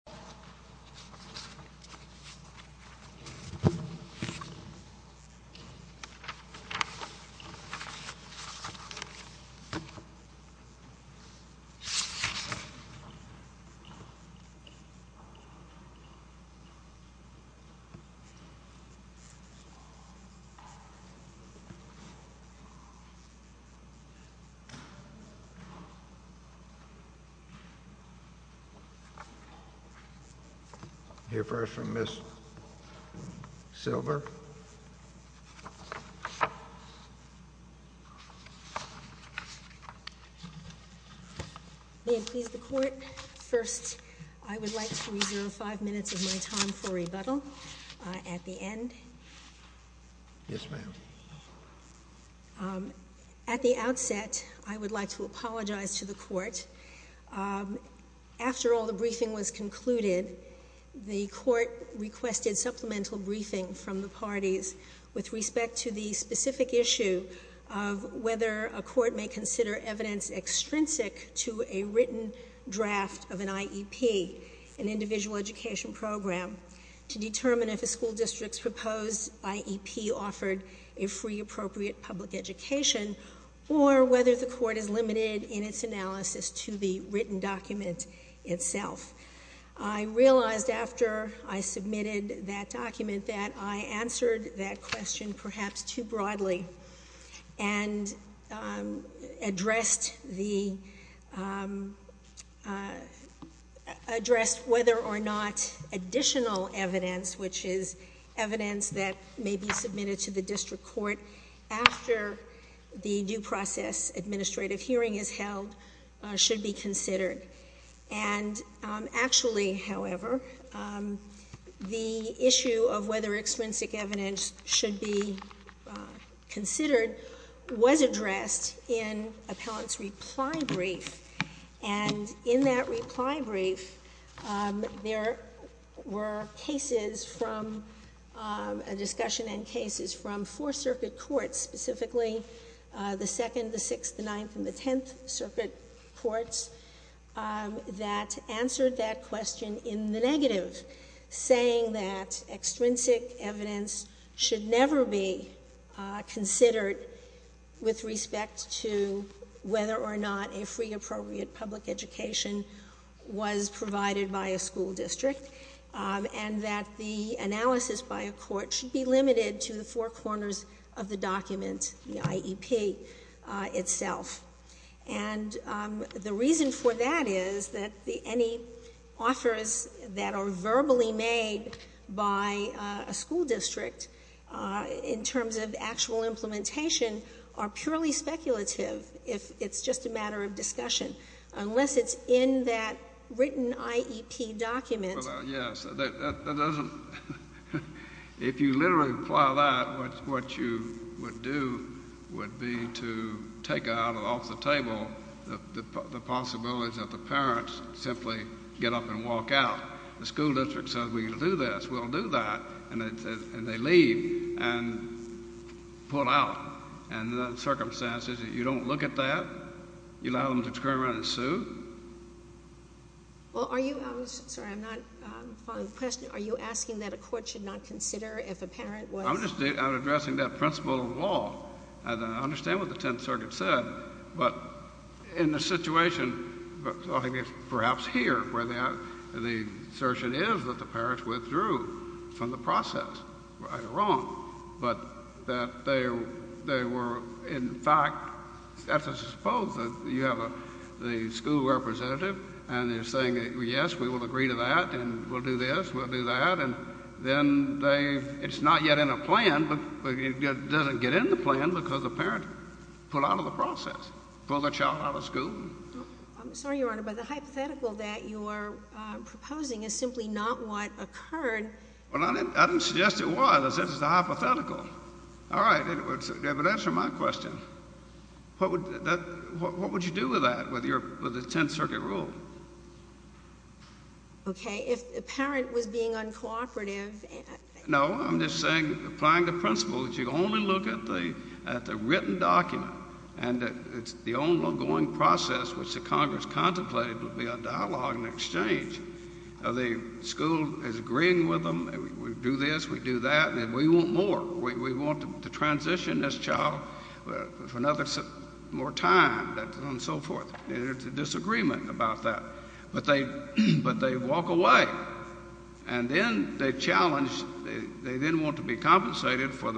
v. M. C. M. V. Jane Barrett. Hear first from Ms. Silver. May it please the Court first I would like to reserve 5 minutes of my time for rebuttal at the end. At the outset, I would like to apologize to the Court. After all the briefing was concluded, the Court requested supplemental briefing from the parties with respect to the specific issue of whether a court may consider evidence extrinsic to a written draft of an IEP, an individual education program, to determine if a school district's proposed IEP offered a free appropriate public education, or whether the Court is limited in its analysis to the written document itself. I realized after I submitted that document that I answered that question perhaps too may be submitted to the District Court after the due process administrative hearing is held should be considered. And actually, however, the issue of whether extrinsic evidence should be considered was addressed in Appellant's reply brief. And in that reply brief, there were cases from a discussion and cases from four Circuit Courts, specifically the Second, the Sixth, the Ninth, and the Tenth Circuit Courts, that answered that question in the negative, saying that extrinsic evidence should never be considered with respect to whether or not a free appropriate public education was provided by a school district, and that the analysis by a court should be limited to the four corners of the document, the IEP itself. And the reason for that is that any offers that are verbally made by a school district in terms of actual implementation are purely speculative if it's just a matter of discussion unless it's in that written IEP document. Well, yes, that doesn't, if you literally apply that, what you would do would be to take out off the table the possibility that the parents simply get up and walk out. The school district says, we can do this, we'll do that, and they leave and pull out. And in those circumstances, you don't look at that, you allow them to turn around and sue? Well, are you, I'm sorry, I'm not following the question, are you asking that a court should not consider if a parent was? I'm just addressing that principle of law. I understand what the Tenth Circuit said, but in the situation, I think it's perhaps here where the assertion is that the parents withdrew from the process, right or wrong, but that they were, in fact, supposed that you have the school representative and they're saying that, yes, we will agree to that and we'll do this, we'll do that, and then they, it's not yet in a plan, but it doesn't get in the plan because the parent pulled out of the process, pulled the child out of school. I'm sorry, Your Honor, but the hypothetical that you are proposing is simply not what occurred. Well, I didn't suggest it was, I said it's a hypothetical. All right, but answer my question. What would you do with that, with the Tenth Circuit rule? Okay, if the parent was being uncooperative. No, I'm just saying, applying the principle that you only look at the written document and it's the ongoing process which the Congress contemplated would be a dialogue and exchange. The school is agreeing with them, we do this, we do that, and we want more. We want to transition this child for another, more time, and so forth, and there's a disagreement about that, but they walk away, and then they challenge, they then want to be compensated for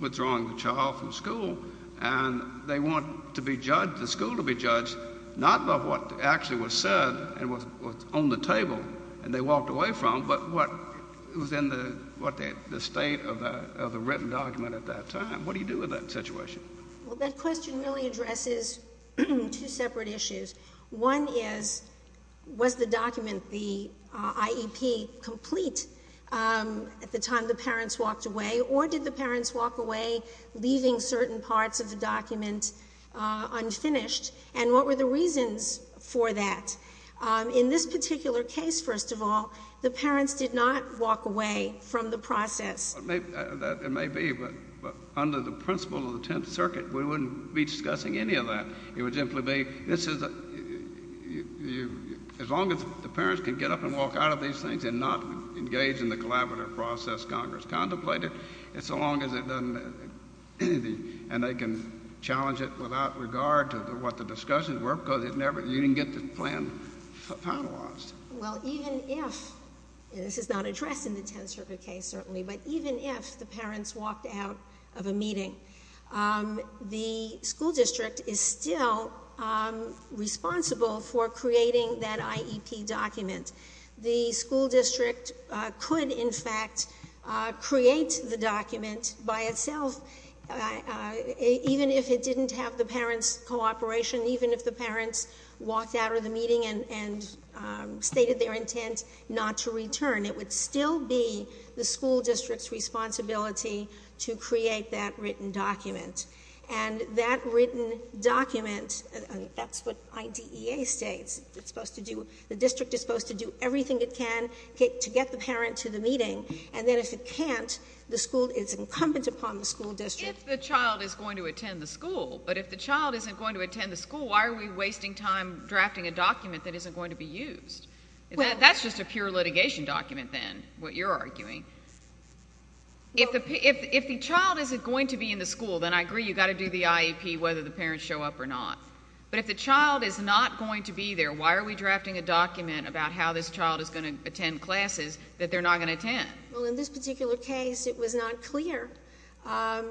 withdrawing the child from school, and they want to be judged, the school to be judged, not about what actually was said and was on the table and they walked away from, but what was in the state of the written document at that time. What do you do with that situation? Well, that question really addresses two separate issues. One is, was the document, the IEP, complete at the time the parents walked away, or did the parents walk away leaving certain parts of the document unfinished, and what were the reasons for that? In this particular case, first of all, the parents did not walk away from the process. It may be, but under the principle of the Tenth Circuit, we wouldn't be discussing any of that. It would simply be, this is, as long as the parents can get up and walk out of these things and not engage in the collaborative process Congress contemplated, it's as long as it doesn't, and they can challenge it without regard to what the discussions were, because it never, you didn't get the plan finalized. Well, even if, and this is not addressed in the Tenth Circuit case, certainly, but even if the parents walked out of a meeting, the school district is still responsible for creating that IEP document. The school district could, in fact, create the document by itself, even if it didn't have the parents' cooperation, even if the parents walked out of the meeting and stated their intent not to return. It would still be the school district's responsibility to create that written document, and that written document, that's what IDEA states, it's supposed to do, the district is supposed to do everything it can to get the parent to the meeting, and then if it can't, the school, it's incumbent upon the school district. If the child is going to attend the school, but if the child isn't going to attend the school, why are we wasting time drafting a document that isn't going to be used? That's just a pure litigation document, then, what you're arguing. If the child isn't going to be in the school, then I agree, you've got to do the IEP, whether the parents show up or not, but if the child is not going to be there, why are we drafting a document about how this child is going to attend classes that they're not going to attend? Well, in this particular case, it was not clear, at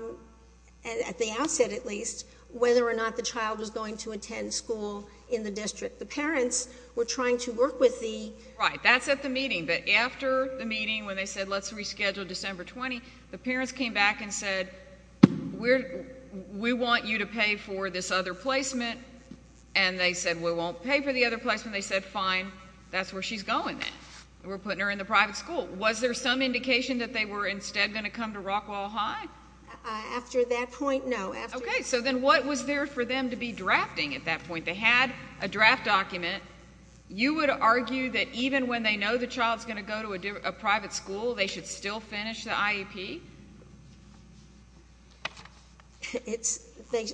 the outset at least, whether or not the child was going to attend school in the district. The parents were trying to work with the... Right, that's at the meeting, but after the meeting, when they said, let's reschedule December 20, the parents came back and said, we want you to pay for this other placement, and they said, we won't pay for the other placement, and they said, fine, that's where she's going then. We're putting her in the private school. Was there some indication that they were instead going to come to Rockwall High? After that point, no. Okay, so then what was there for them to be drafting at that point? They had a draft document. You would argue that even when they know the child's going to go to a private school, they should still finish the IEP? It's... They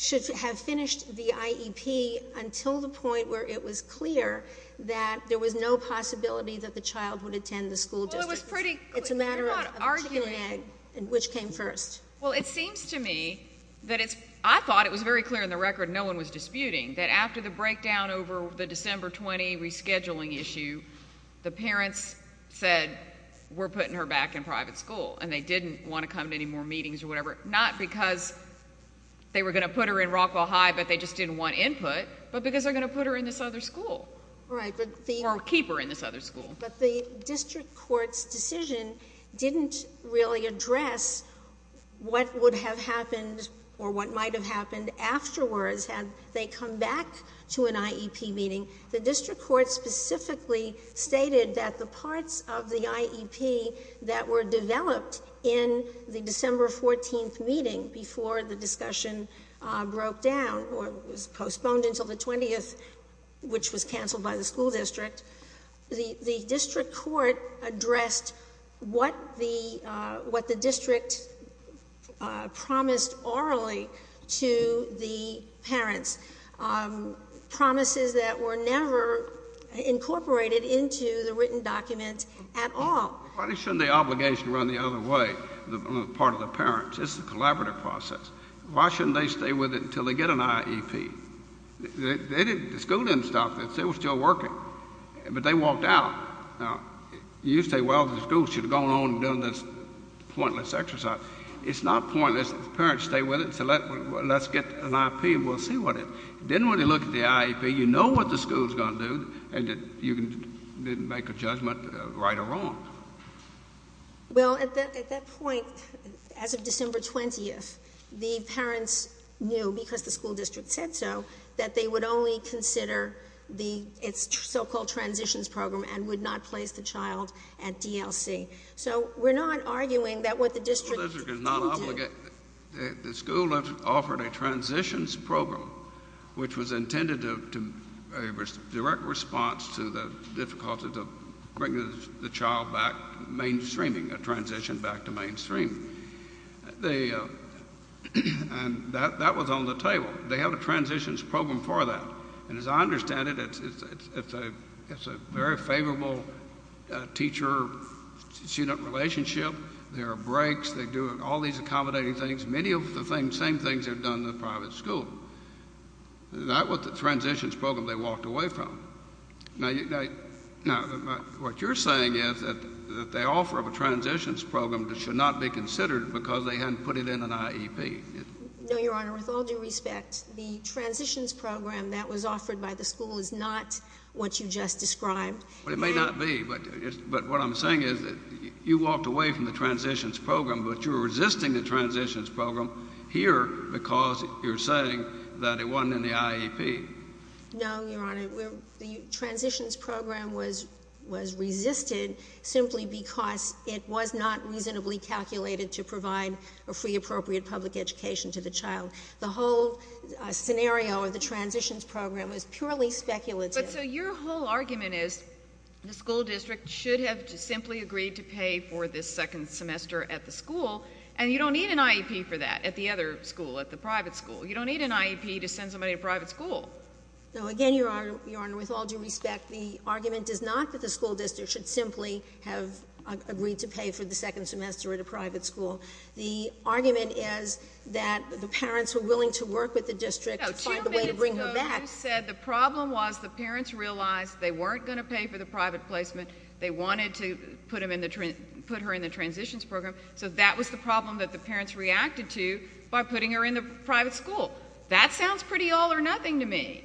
should have finished the IEP until the point where it was clear that there was no possibility that the child would attend the school district. Well, it was pretty... It's a matter of... You're not arguing... ...chicken and egg, which came first. Well, it seems to me that it's... I thought it was very clear in the record, no one was disputing, that after the breakdown over the December 20 rescheduling issue, the parents said, we're putting her back in private school, and they didn't want to come to any more meetings or whatever, not because they were going to put her in Rockwall High, but they just didn't want input, but because they're going to put her in this other school. Right, but the... Or keep her in this other school. Right, but the district court's decision didn't really address what would have happened or what might have happened afterwards had they come back to an IEP meeting. The district court specifically stated that the parts of the IEP that were developed in the December 14th meeting, before the discussion broke down or was postponed until the 20th, which was canceled by the school district, the district court addressed what the district promised orally to the parents, promises that were never incorporated into the written document at all. Why shouldn't the obligation run the other way, on the part of the parents? It's a collaborative process. Why shouldn't they stay with it until they get an IEP? The school didn't stop this. They were still working, but they walked out. Now, you say, well, the school should have gone on and done this pointless exercise. It's not pointless. The parents stay with it and say, let's get an IEP and we'll see what it... Didn't really look at the IEP. You know what the school's going to do, and you can make a judgment, right or wrong. Well, at that point, as of December 20th, the parents knew, because the school district said so, that they would only consider the, its so-called transitions program and would not place the child at DLC. So we're not arguing that what the district didn't do... The school district is not obligated. The school offered a transitions program, which was intended to, a direct response to the difficulty to bring the child back mainstreaming, a transition back to mainstreaming. And that was on the table. They have a transitions program for that. And as I understand it, it's a very favorable teacher-student relationship. There are breaks, they do all these accommodating things, many of the same things they've done in the private school. That was the transitions program they walked away from. Now, what you're saying is that the offer of a transitions program should not be considered because they hadn't put it in an IEP. No, Your Honor. With all due respect, the transitions program that was offered by the school is not what you just described. Well, it may not be, but what I'm saying is that you walked away from the transitions program, but you're resisting the transitions program here because you're saying that it wasn't in the IEP. No, Your Honor. The transitions program was resisted simply because it was not reasonably calculated to provide a free, appropriate public education to the child. The whole scenario of the transitions program was purely speculative. But so your whole argument is the school district should have simply agreed to pay for this second semester at the school, and you don't need an IEP for that at the other school, at the private school. You don't need an IEP to send somebody to private school. No, again, Your Honor, with all due respect, the argument is not that the school district should simply have agreed to pay for the second semester at a private school. The argument is that the parents were willing to work with the district to find a way to bring her back. No, two minutes ago you said the problem was the parents realized they weren't going to pay for the private placement. They wanted to put her in the transitions program. So that was the problem that the parents reacted to by putting her in the private school. That sounds pretty all or nothing to me.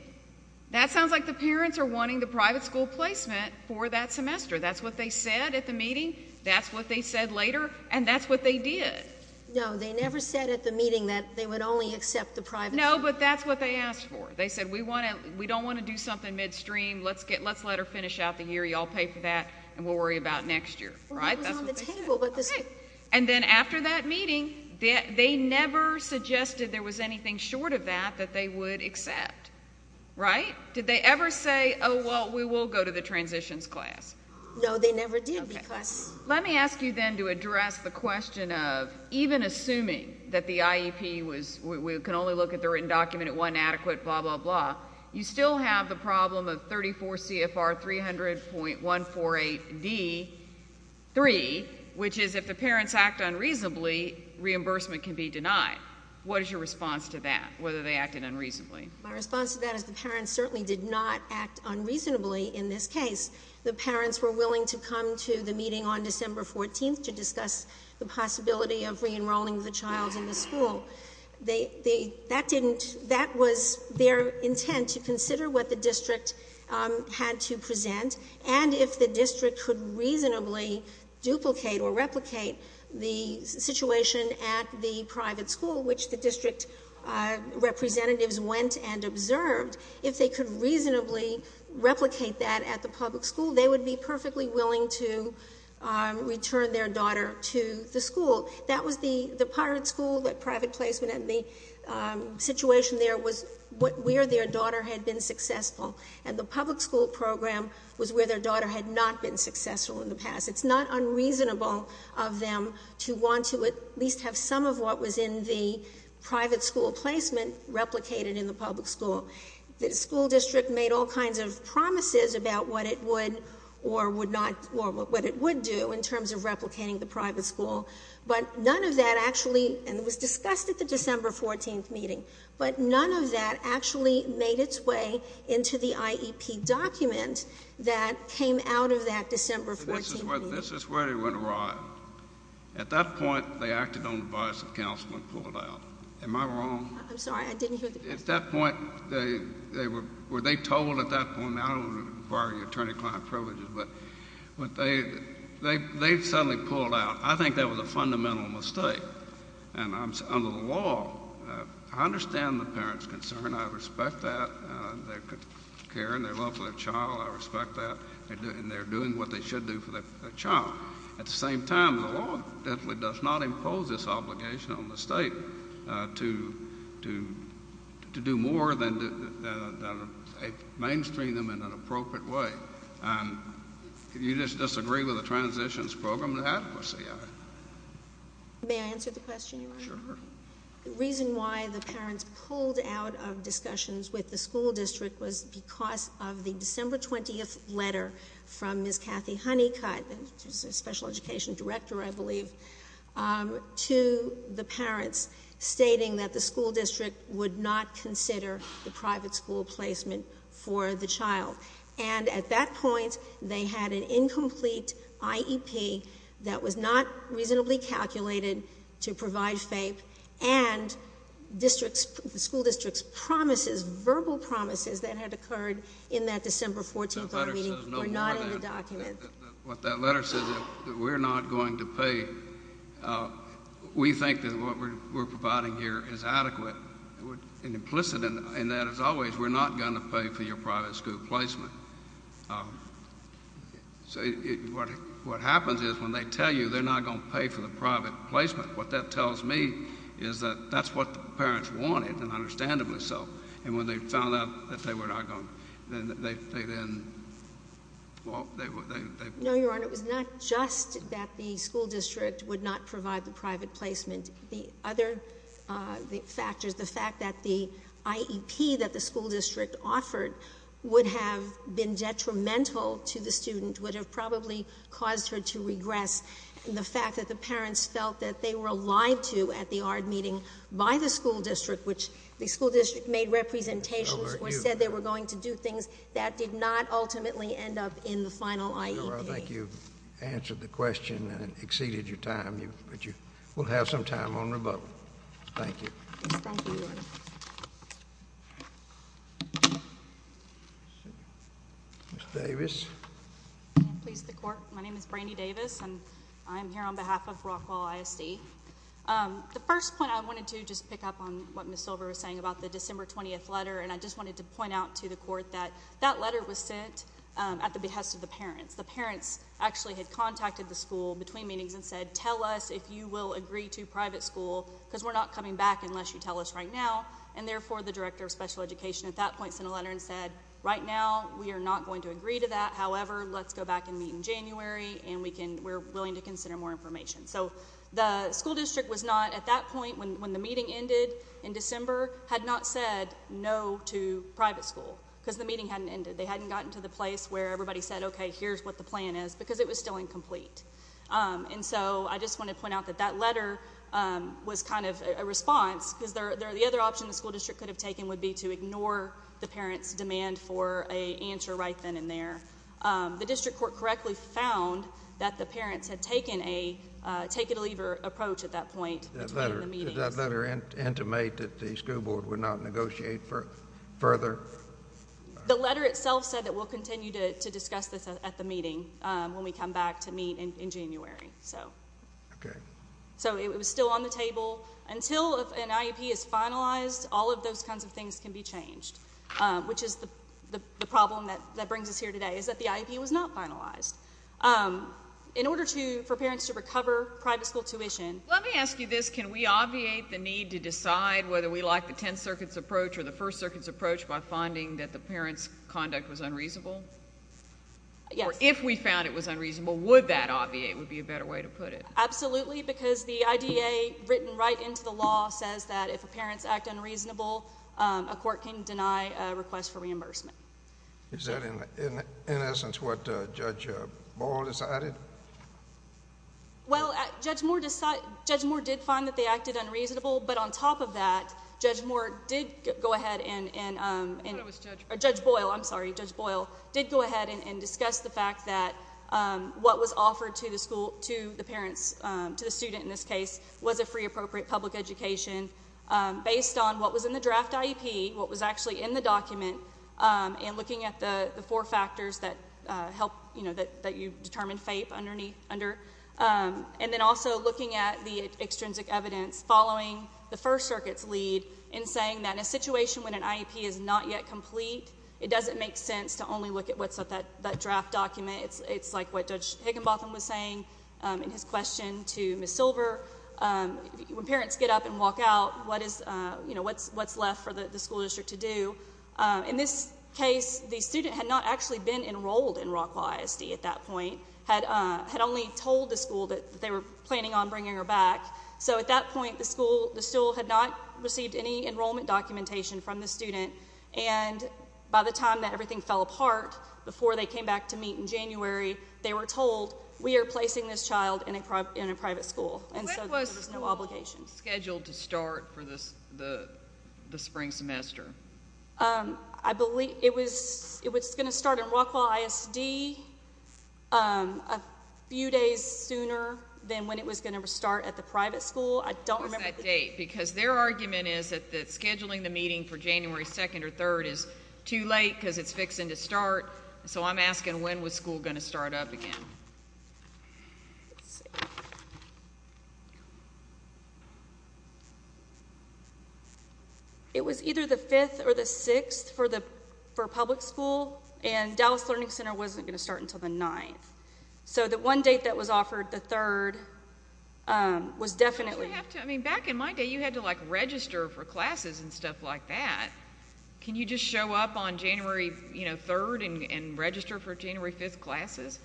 That sounds like the parents are wanting the private school placement for that semester. That's what they said at the meeting. That's what they said later. And that's what they did. No, they never said at the meeting that they would only accept the private school. No, but that's what they asked for. They said, we don't want to do something midstream. Let's let her finish out the year. You all pay for that, and we'll worry about next year. Well, that was on the table. And then after that meeting, they never suggested there was anything short of that that they would accept, right? Did they ever say, oh, well, we will go to the transitions class? No, they never did. Let me ask you then to address the question of even assuming that the IEP was, we can only look at the written document at one adequate, blah, blah, blah, you still have the problem of 34 CFR 300.148D.3, which is if the parents act unreasonably, reimbursement can be denied. What is your response to that, whether they acted unreasonably? My response to that is the parents certainly did not act unreasonably in this case. The parents were willing to come to the meeting on December 14th to discuss the possibility of re-enrolling the child in the school. That didn't, that was their intent to consider what the district had to present, and if the school, which the district representatives went and observed, if they could reasonably replicate that at the public school, they would be perfectly willing to return their daughter to the school. That was the Pirate School, that private placement, and the situation there was where their daughter had been successful, and the public school program was where their daughter had not been successful in the past. It's not unreasonable of them to want to at least have some of what was in the private school placement replicated in the public school. The school district made all kinds of promises about what it would or would not, or what it would do in terms of replicating the private school, but none of that actually, and it was discussed at the December 14th meeting, but none of that actually made its way into the IEP document that came out of that December 14th meeting. This is where they went awry. At that point, they acted on the bias of counsel and pulled out. Am I wrong? I'm sorry, I didn't hear the question. At that point, they were, were they told at that point, and I don't want to bar your attorney client privileges, but they suddenly pulled out. I think that was a fundamental mistake, and I'm, under the law, I understand the parents' concern. I respect that. They're caring. They're loving their child. I respect that, and they're doing what they should do for their child. At the same time, the law definitely does not impose this obligation on the state to do more than mainstream them in an appropriate way. You just disagree with the transitions program and the adequacy of it. May I answer the question, Your Honor? Sure. The reason why the parents pulled out of discussions with the school district was because of the December 20th letter from Ms. Kathy Honeycutt, who's a special education director, I believe, to the parents, stating that the school district would not consider the private school placement for the child. And at that point, they had an incomplete IEP that was not reasonably calculated to provide FAPE, and the school district's promises, verbal promises that had occurred in that December 14th meeting were not in the document. What that letter says is that we're not going to pay. We think that what we're providing here is adequate and implicit, and that, as always, we're not going to pay for your private school placement. What happens is, when they tell you they're not going to pay for the private placement, what that tells me is that that's what the parents wanted, and understandably so. And when they found out that they were not going to, they then... No, Your Honor. It was not just that the school district would not provide the private placement. The other factors, the fact that the IEP that the school district offered would have been passed, and the fact that the parents felt that they were lied to at the ARD meeting by the school district, which the school district made representations or said they were going to do things, that did not ultimately end up in the final IEP. Your Honor, I think you've answered the question and exceeded your time, but you will have some time on rebuttal. Thank you. Thank you, Your Honor. Ms. Davis. Please, the Court. My name is Brandi Davis, and I'm here on behalf of Rockwall ISD. The first point I wanted to just pick up on what Ms. Silver was saying about the December 20th letter, and I just wanted to point out to the Court that that letter was sent at the behest of the parents. The parents actually had contacted the school between meetings and said, tell us if you will agree to private school, because we're not coming back unless you tell us right now. And therefore, the Director of Special Education at that point sent a letter and said, right now, we are not going to agree to that. However, let's go back and meet in January, and we're willing to consider more information. So, the school district was not, at that point when the meeting ended in December, had not said no to private school, because the meeting hadn't ended. They hadn't gotten to the place where everybody said, okay, here's what the plan is, because it was still incomplete. And so, I just want to point out that that letter was kind of a response, because the for a answer right then and there. The district court correctly found that the parents had taken a take it or leave it approach at that point between the meetings. Did that letter intimate that the school board would not negotiate further? The letter itself said that we'll continue to discuss this at the meeting when we come back to meet in January. Okay. So, it was still on the table. Until an IEP is finalized, all of those kinds of things can be changed. Which is the problem that brings us here today, is that the IEP was not finalized. In order for parents to recover private school tuition... Let me ask you this. Can we obviate the need to decide whether we like the Tenth Circuit's approach or the First Circuit's approach by finding that the parents' conduct was unreasonable? Yes. Or if we found it was unreasonable, would that obviate would be a better way to put it? Absolutely, because the IDA written right into the law says that if a parent's act unreasonable, a court can deny a request for reimbursement. Is that in essence what Judge Boyle decided? Well, Judge Boyle did find that they acted unreasonable, but on top of that, Judge Boyle did go ahead and discuss the fact that what was offered to the parents, to the student in this case, was a free, appropriate public education based on what was in the draft IEP, what was actually in the document, and looking at the four factors that you determined FAPE underneath. And then also looking at the extrinsic evidence following the First Circuit's lead in saying that in a situation when an IEP is not yet complete, it doesn't make sense to only look at what's in that draft document. It's like what Judge Higginbotham was saying in his question to Ms. Silver. When parents get up and walk out, what's left for the school district to do? In this case, the student had not actually been enrolled in Rockwell ISD at that point, had only told the school that they were planning on bringing her back. So at that point, the school, the school had not received any enrollment documentation from the student, and by the time that everything fell apart, before they came back to meet in January, they were told, we are placing this child in a private school, and so there was no obligation. When was scheduled to start for the spring semester? I believe it was going to start in Rockwell ISD a few days sooner than when it was going to start at the private school. What's that date? Because their argument is that scheduling the meeting for January 2nd or 3rd is too late because it's fixing to start, so I'm asking when was school going to start up again? It was either the 5th or the 6th for public school, and Dallas Learning Center wasn't going to start until the 9th. So the one date that was offered, the 3rd, was definitely... I mean, back in my day, you had to like register for classes and stuff like that. Can you just show up on January 3rd and register for January 5th classes?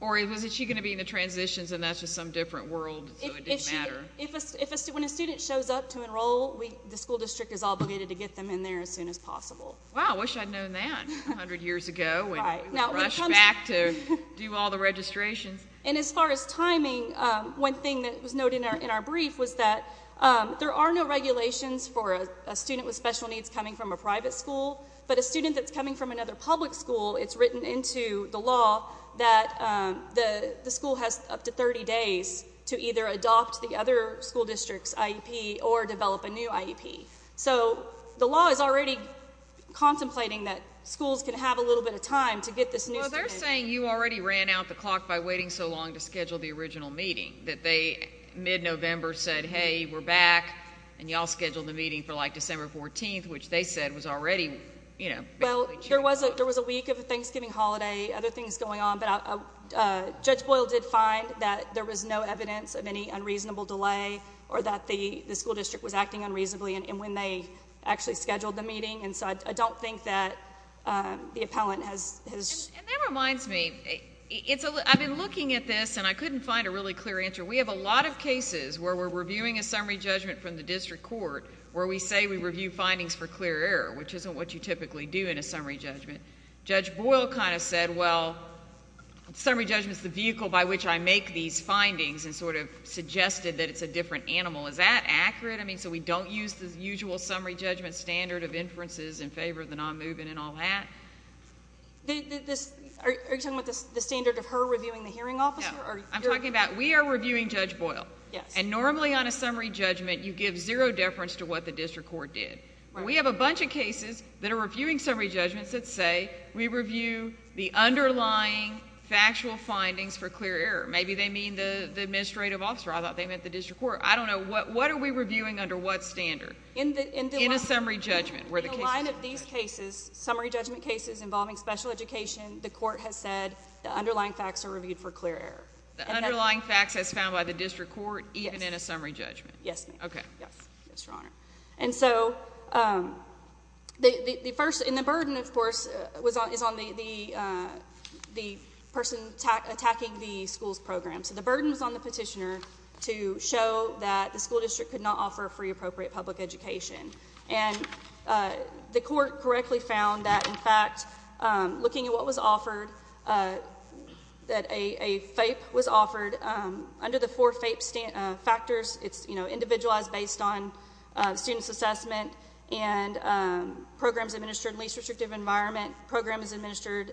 Or was she going to be in the transitions and that's just some different world, so it didn't matter? When a student shows up to enroll, the school district is obligated to get them in there as soon as possible. Wow, I wish I'd known that a hundred years ago when we would rush back to do all the registrations. And as far as timing, one thing that was noted in our brief was that there are no regulations for a student with special needs coming from a private school. But a student that's coming from another public school, it's written into the law that the school has up to 30 days to either adopt the other school district's IEP or develop a new IEP. So the law is already contemplating that schools can have a little bit of time to get this new... Well, they're saying you already ran out the clock by waiting so long to schedule the original meeting. That they, mid-November, said, hey, we're back, and y'all scheduled the meeting for like December 14th, which they said was already... Well, there was a week of Thanksgiving holiday, other things going on, but Judge Boyle did find that there was no evidence of any unreasonable delay or that the school district was acting unreasonably when they actually scheduled the meeting. And so I don't think that the appellant has... And that reminds me, I've been looking at this, and I couldn't find a really clear answer. We have a lot of cases where we're reviewing a summary judgment from the district court where we say we review findings for clear error, which isn't what you typically do in a summary judgment. Judge Boyle kind of said, well, summary judgment's the vehicle by which I make these findings and sort of suggested that it's a different animal. Is that accurate? I mean, so we don't use the usual summary judgment standard of inferences in favor of the non-moving and all that? Are you talking about the standard of her reviewing the hearing officer? No. I'm talking about we are reviewing Judge Boyle. Yes. And normally on a summary judgment, you give zero deference to what the district court did. We have a bunch of cases that are reviewing summary judgments that say we review the underlying factual findings for clear error. Maybe they mean the administrative officer. I thought they meant the district court. I don't know. What are we reviewing under what standard in a summary judgment? In the line of these cases, summary judgment cases involving special education, the court has said the underlying facts are reviewed for clear error. The underlying facts as found by the district court even in a summary judgment? Yes, ma'am. Okay. Yes, Your Honor. And so the first, and the burden, of course, is on the person attacking the school's program. So the burden is on the petitioner to show that the school district could not offer free appropriate public education. And the court correctly found that, in fact, looking at what was offered, that a FAPE was offered under the four FAPE factors. It's, you know, individualized based on student's assessment and programs administered in least restrictive environment. Programs administered,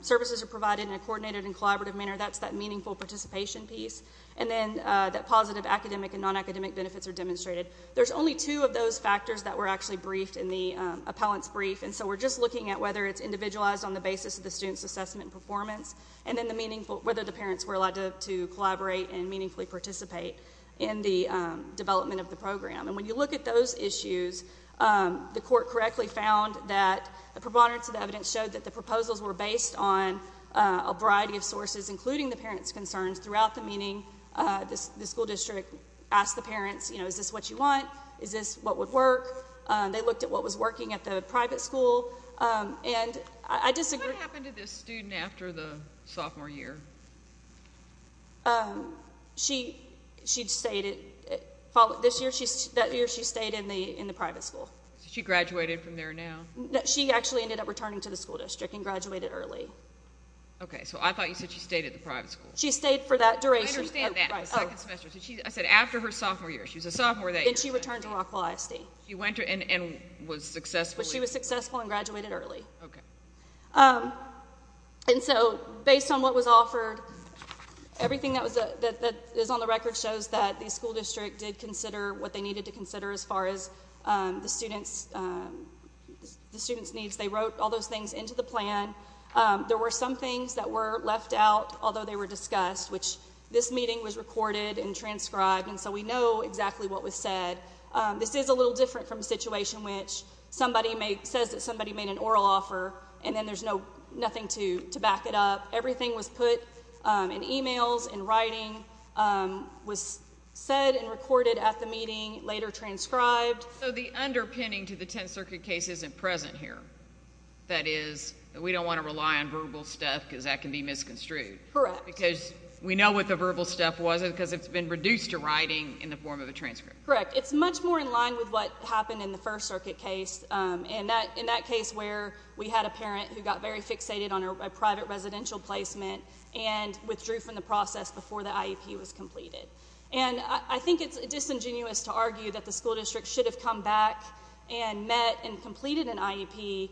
services are provided in a coordinated and collaborative manner. That's that meaningful participation piece. And then that positive academic and non-academic benefits are demonstrated. There's only two of those factors that were actually briefed in the appellant's brief. And so we're just looking at whether it's individualized on the basis of the student's assessment and performance, and then the meaningful, whether the parents were allowed to collaborate and meaningfully participate in the development of the program. And when you look at those issues, the court correctly found that the preponderance of the evidence showed that the proposals were based on a variety of sources, including the parents' concerns throughout the meeting. The school district asked the parents, you know, is this what you want? Is this what would work? They looked at what was working at the private school. And I disagree. What happened to this student after the sophomore year? She, she stayed, this year, that year she stayed in the private school. She graduated from there now? She actually ended up returning to the school district and graduated early. Okay, so I thought you said she stayed at the private school. She stayed for that duration. I understand that, the second semester. I said after her sophomore year. She was a sophomore that year. Then she returned to Rockwell ISD. She went and was successful? She was successful and graduated early. Okay. And so, based on what was offered, everything that is on the record shows that the school district did consider what they needed to consider as far as the student's, the student's needs. They wrote all those things into the plan. There were some things that were left out, although they were discussed, which this meeting was recorded and transcribed, and so we know exactly what was said. This is a little different from a situation which somebody says that somebody made an oral offer, and then there's nothing to back it up. Everything was put in emails, in writing, was said and recorded at the meeting, later transcribed. So the underpinning to the Tenth Circuit case isn't present here. That is, we don't want to rely on verbal stuff because that can be misconstrued. Correct. Because we know what the verbal stuff was because it's been reduced to writing in the form of a transcript. Correct. It's much more in line with what happened in the First Circuit case. In that case where we had a parent who got very fixated on a private residential placement and withdrew from the process before the IEP was completed. And I think it's disingenuous to argue that the school district should have come back and met and completed an IEP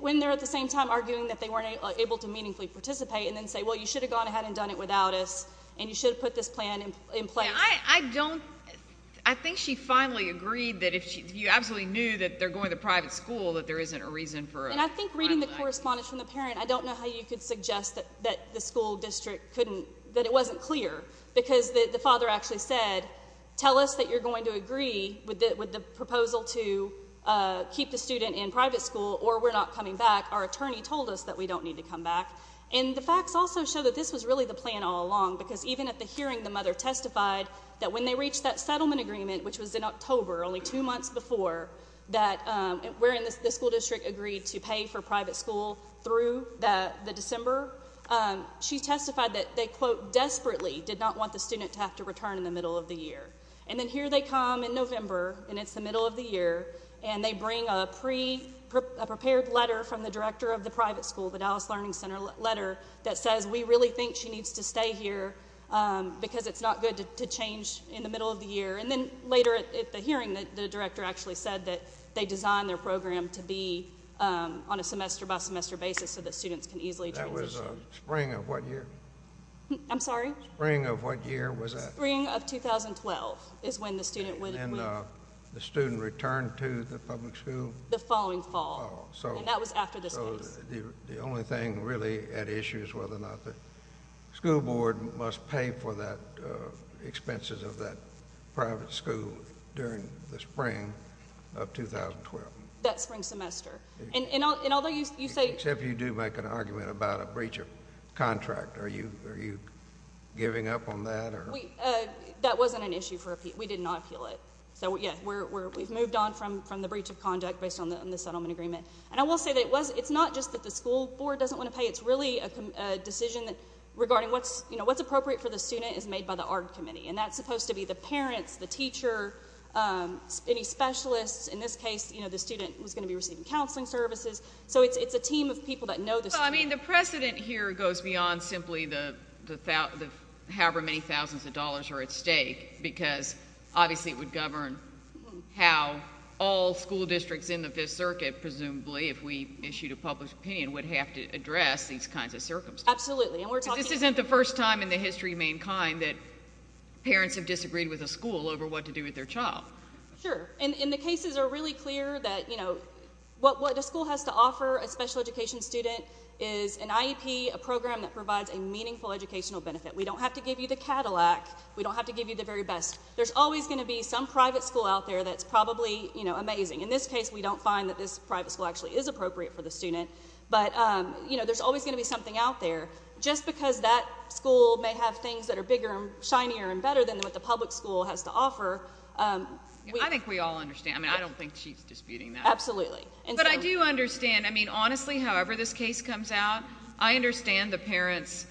when they're at the same time arguing that they weren't able to meaningfully participate and then say, well, you should have gone ahead and done it without us, and you should have put this plan in place. I don't, I think she finally agreed that if you absolutely knew that they're going to private school, that there isn't a reason for it. And I think reading the correspondence from the parent, I don't know how you could suggest that the school district couldn't, that it wasn't clear. Because the father actually said, tell us that you're going to agree with the proposal to keep the student in private school or we're not coming back. Our attorney told us that we don't need to come back. And the facts also show that this was really the plan all along, because even at the hearing the mother testified that when they reached that settlement agreement, which was in October only two months before, that we're in the school district agreed to pay for private school through the December, she testified that they, quote, desperately did not want the student to have to return in the middle of the year. And then here they come in November, and it's the middle of the year, and they bring a prepared letter from the director of the private school, the Dallas Learning Center letter, that says we really think she needs to stay here because it's not good to change in the middle of the year. And then later at the hearing, the director actually said that they designed their program to be on a semester-by-semester basis so that students can easily transition. That was spring of what year? I'm sorry? Spring of what year was that? Spring of 2012 is when the student would... And then the student returned to the public school? The following fall. Oh, so... And that was after this case. So the only thing really at issue is whether or not the school board must pay for that expenses of that private school during the spring of 2012. That spring semester. And although you say... Except you do make an argument about a breach of contract. Are you giving up on that? That wasn't an issue for appeal. We did not appeal it. So, yeah, we've moved on from the breach of conduct based on the settlement agreement. And I will say that it's not just that the school board doesn't want to pay. It's really a decision regarding what's appropriate for the student is made by the ARD committee. And that's supposed to be the parents, the teacher, any specialists. In this case, the student was going to be receiving counseling services. So it's a team of people that know the student. The precedent here goes beyond simply however many thousands of dollars are at stake because obviously it would govern how all school districts in the Fifth Circuit, presumably, if we issued a public opinion, would have to address these kinds of circumstances. Absolutely. This isn't the first time in the history of mankind that parents have disagreed with a school over what to do with their child. Sure. And the cases are really clear that what the school has to offer a special education student is an IEP, a program that provides a meaningful educational benefit. We don't have to give you the Cadillac. We don't have to give you the very best. There's always going to be some private school out there that's probably amazing. In this case, we don't find that this private school actually is appropriate for the student. But there's always going to be something out there. Just because that school may have things that are bigger and shinier and better than what the public school has to offer. I think we all understand. I mean, I don't think she's disputing that. Absolutely. But I do understand. I mean, honestly, however this case comes out, I understand the parents,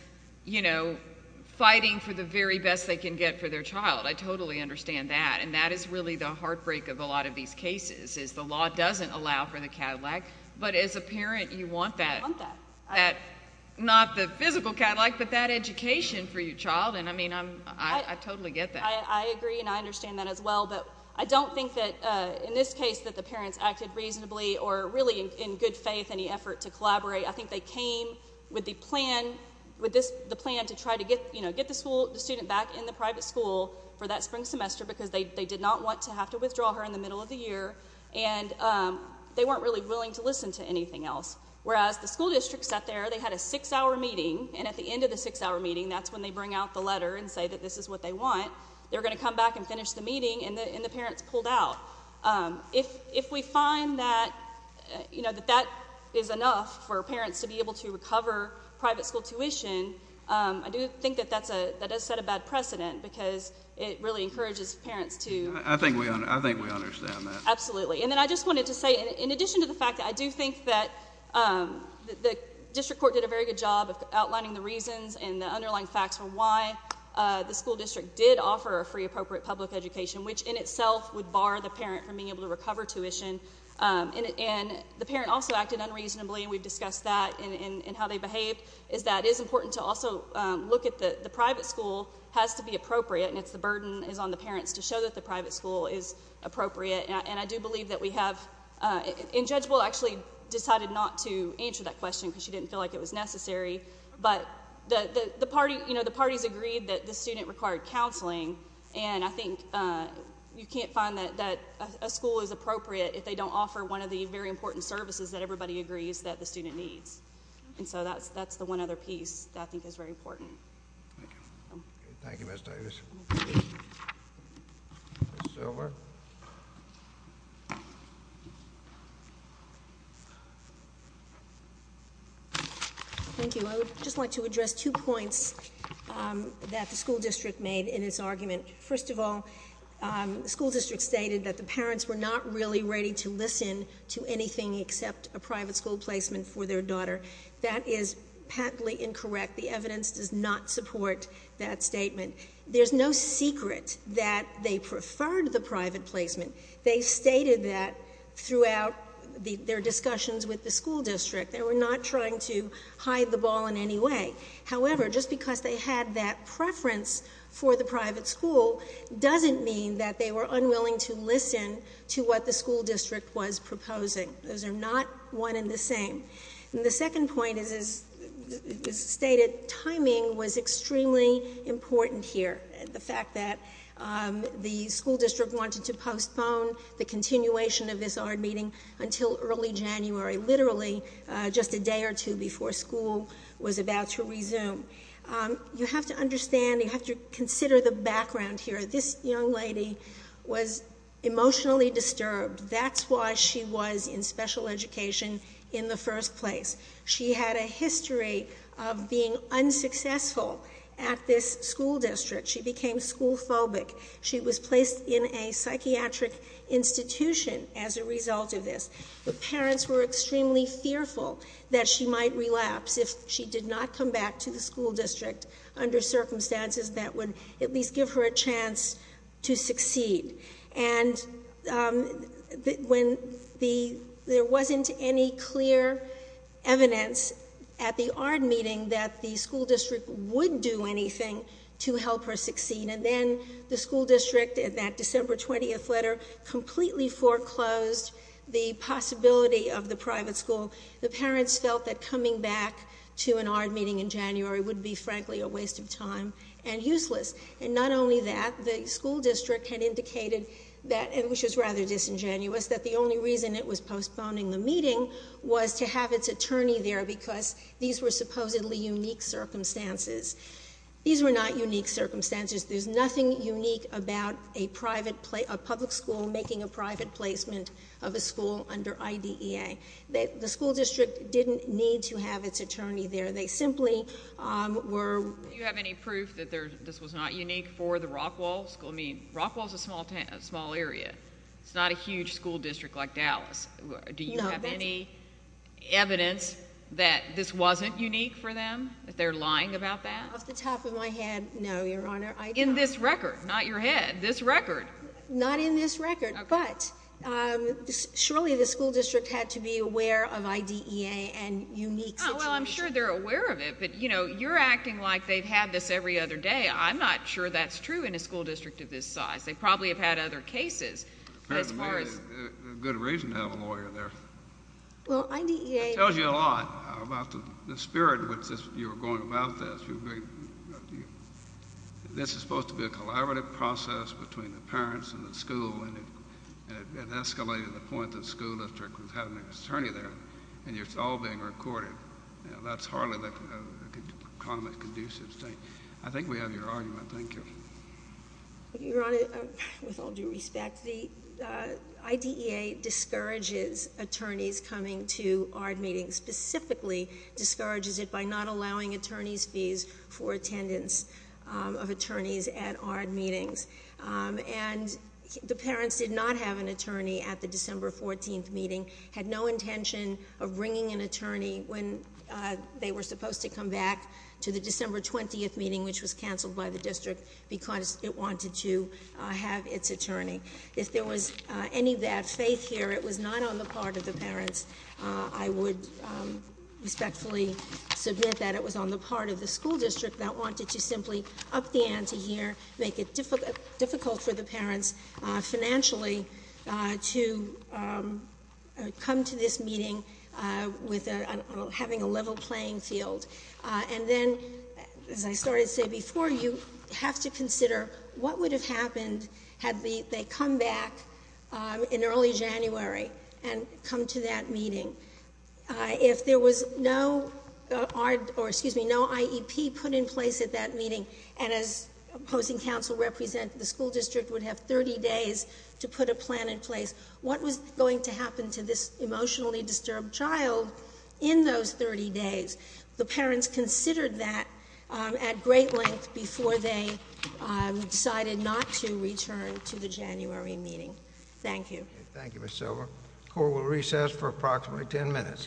you know, fighting for the very best they can get for their child. I totally understand that. And that is really the heartbreak of a lot of these cases is the law doesn't allow for the Cadillac. But as a parent, you want that. I want that. Not the physical Cadillac, but that education for your child. I mean, I totally get that. I agree and I understand that as well. But I don't think that in this case that the parents acted reasonably or really in good faith any effort to collaborate. I think they came with the plan to try to get the student back in the private school for that spring semester because they did not want to have to withdraw her in the middle of the year. And they weren't really willing to listen to anything else. Whereas the school district sat there. They had a six-hour meeting. And at the end of the six-hour meeting, that's when they bring out the letter and say that this is what they want. They're going to come back and finish the meeting. And the parents pulled out. If we find that, you know, that that is enough for parents to be able to recover private school tuition, I do think that that does set a bad precedent because it really encourages parents to… I think we understand that. Absolutely. And then I just wanted to say, in addition to the fact that I do think that the district court did a very good job of outlining the reasons and the underlying facts for why the school district did offer a free appropriate public education, which in itself would bar the parent from being able to recover tuition. And the parent also acted unreasonably. We've discussed that and how they behaved. It is important to also look at the private school has to be appropriate. And it's the burden is on the parents to show that the private school is appropriate. And I do believe that we have… And Judge Bull actually decided not to answer that question because she didn't feel like it was necessary. But the parties agreed that the student required counseling. And I think you can't find that a school is appropriate if they don't offer one of the very important services that everybody agrees that the student needs. And so that's the one other piece that I think is very important. Thank you. Thank you, Ms. Davis. Ms. Silver? Thank you. I would just like to address two points that the school district made in its argument. First of all, the school district stated that the parents were not really ready to listen to anything except a private school placement for their daughter. That is patently incorrect. The evidence does not support that statement. There's no secret that they preferred the private placement. They stated that throughout their discussions with the school district. They were not trying to hide the ball in any way. However, just because they had that preference for the private school doesn't mean that they were unwilling to listen to what the school district was proposing. Those are not one and the same. And the second point is, as stated, timing was extremely important here. The fact that the school district wanted to postpone the continuation of this ARD meeting until early January, literally just a day or two before school was about to resume. You have to understand, you have to consider the background here. This young lady was emotionally disturbed. That's why she was in special education in the first place. She had a history of being unsuccessful at this school district. She became school phobic. She was placed in a psychiatric institution as a result of this. The parents were extremely fearful that she might relapse if she did not come back to the school district under circumstances that would at least give her a chance to succeed. And there wasn't any clear evidence at the ARD meeting that the school district would do anything to help her succeed. And then the school district, in that December 20th letter, completely foreclosed the possibility of the private school. The parents felt that coming back to an ARD meeting in January would be, frankly, a waste of time and useless. And not only that, the school district had indicated that, which is rather disingenuous, that the only reason it was postponing the meeting was to have its attorney there because these were supposedly unique circumstances. These were not unique circumstances. There's nothing unique about a public school making a private placement of a school under IDEA. The school district didn't need to have its attorney there. They simply were... Do you have any proof that this was not unique for the Rockwall school? I mean, Rockwall's a small area. It's not a huge school district like Dallas. Do you have any evidence that this wasn't unique for them? That they're lying about that? Off the top of my head, no, Your Honor. In this record, not your head. This record. Not in this record, but surely the school district had to be aware of IDEA and unique situations. Well, I'm sure they're aware of it, but you're acting like they've had this every other day. I'm not sure that's true in a school district of this size. They probably have had other cases. Good reason to have a lawyer there. Well, IDEA... It tells you a lot about the spirit with which you're going about this. This is supposed to be a collaborative process between the parents and the school, and it escalated to the point that the school district was having an attorney there, and it's all being recorded. That's hardly a conducive statement. I think we have your argument. Thank you. Your Honor, with all due respect, IDEA discourages attorneys coming to ARD meetings, specifically discourages it by not allowing attorneys' fees for attendance of attorneys at ARD meetings. And the parents did not have an attorney at the December 14th meeting, had no intention of bringing an attorney when they were supposed to come back to the December 20th meeting, which was canceled by the district because it wanted to have its attorney. If there was any faith here, it was not on the part of the parents. I would respectfully submit that it was on the part of the school district that wanted to simply up the ante here, make it difficult for the parents, financially, to come to this meeting with having a level playing field. And then, as I started to say before, you have to consider what would have happened had they come back in early January and come to that meeting. If there was no IEP put in place at that meeting, and as opposing counsel represented, the school district would have 30 days to put a plan in place, what was going to happen to this emotionally disturbed child in those 30 days? The parents considered that at great length before they decided not to return to the January meeting. Thank you. Thank you, Ms. Silver. Court will recess for approximately 10 minutes.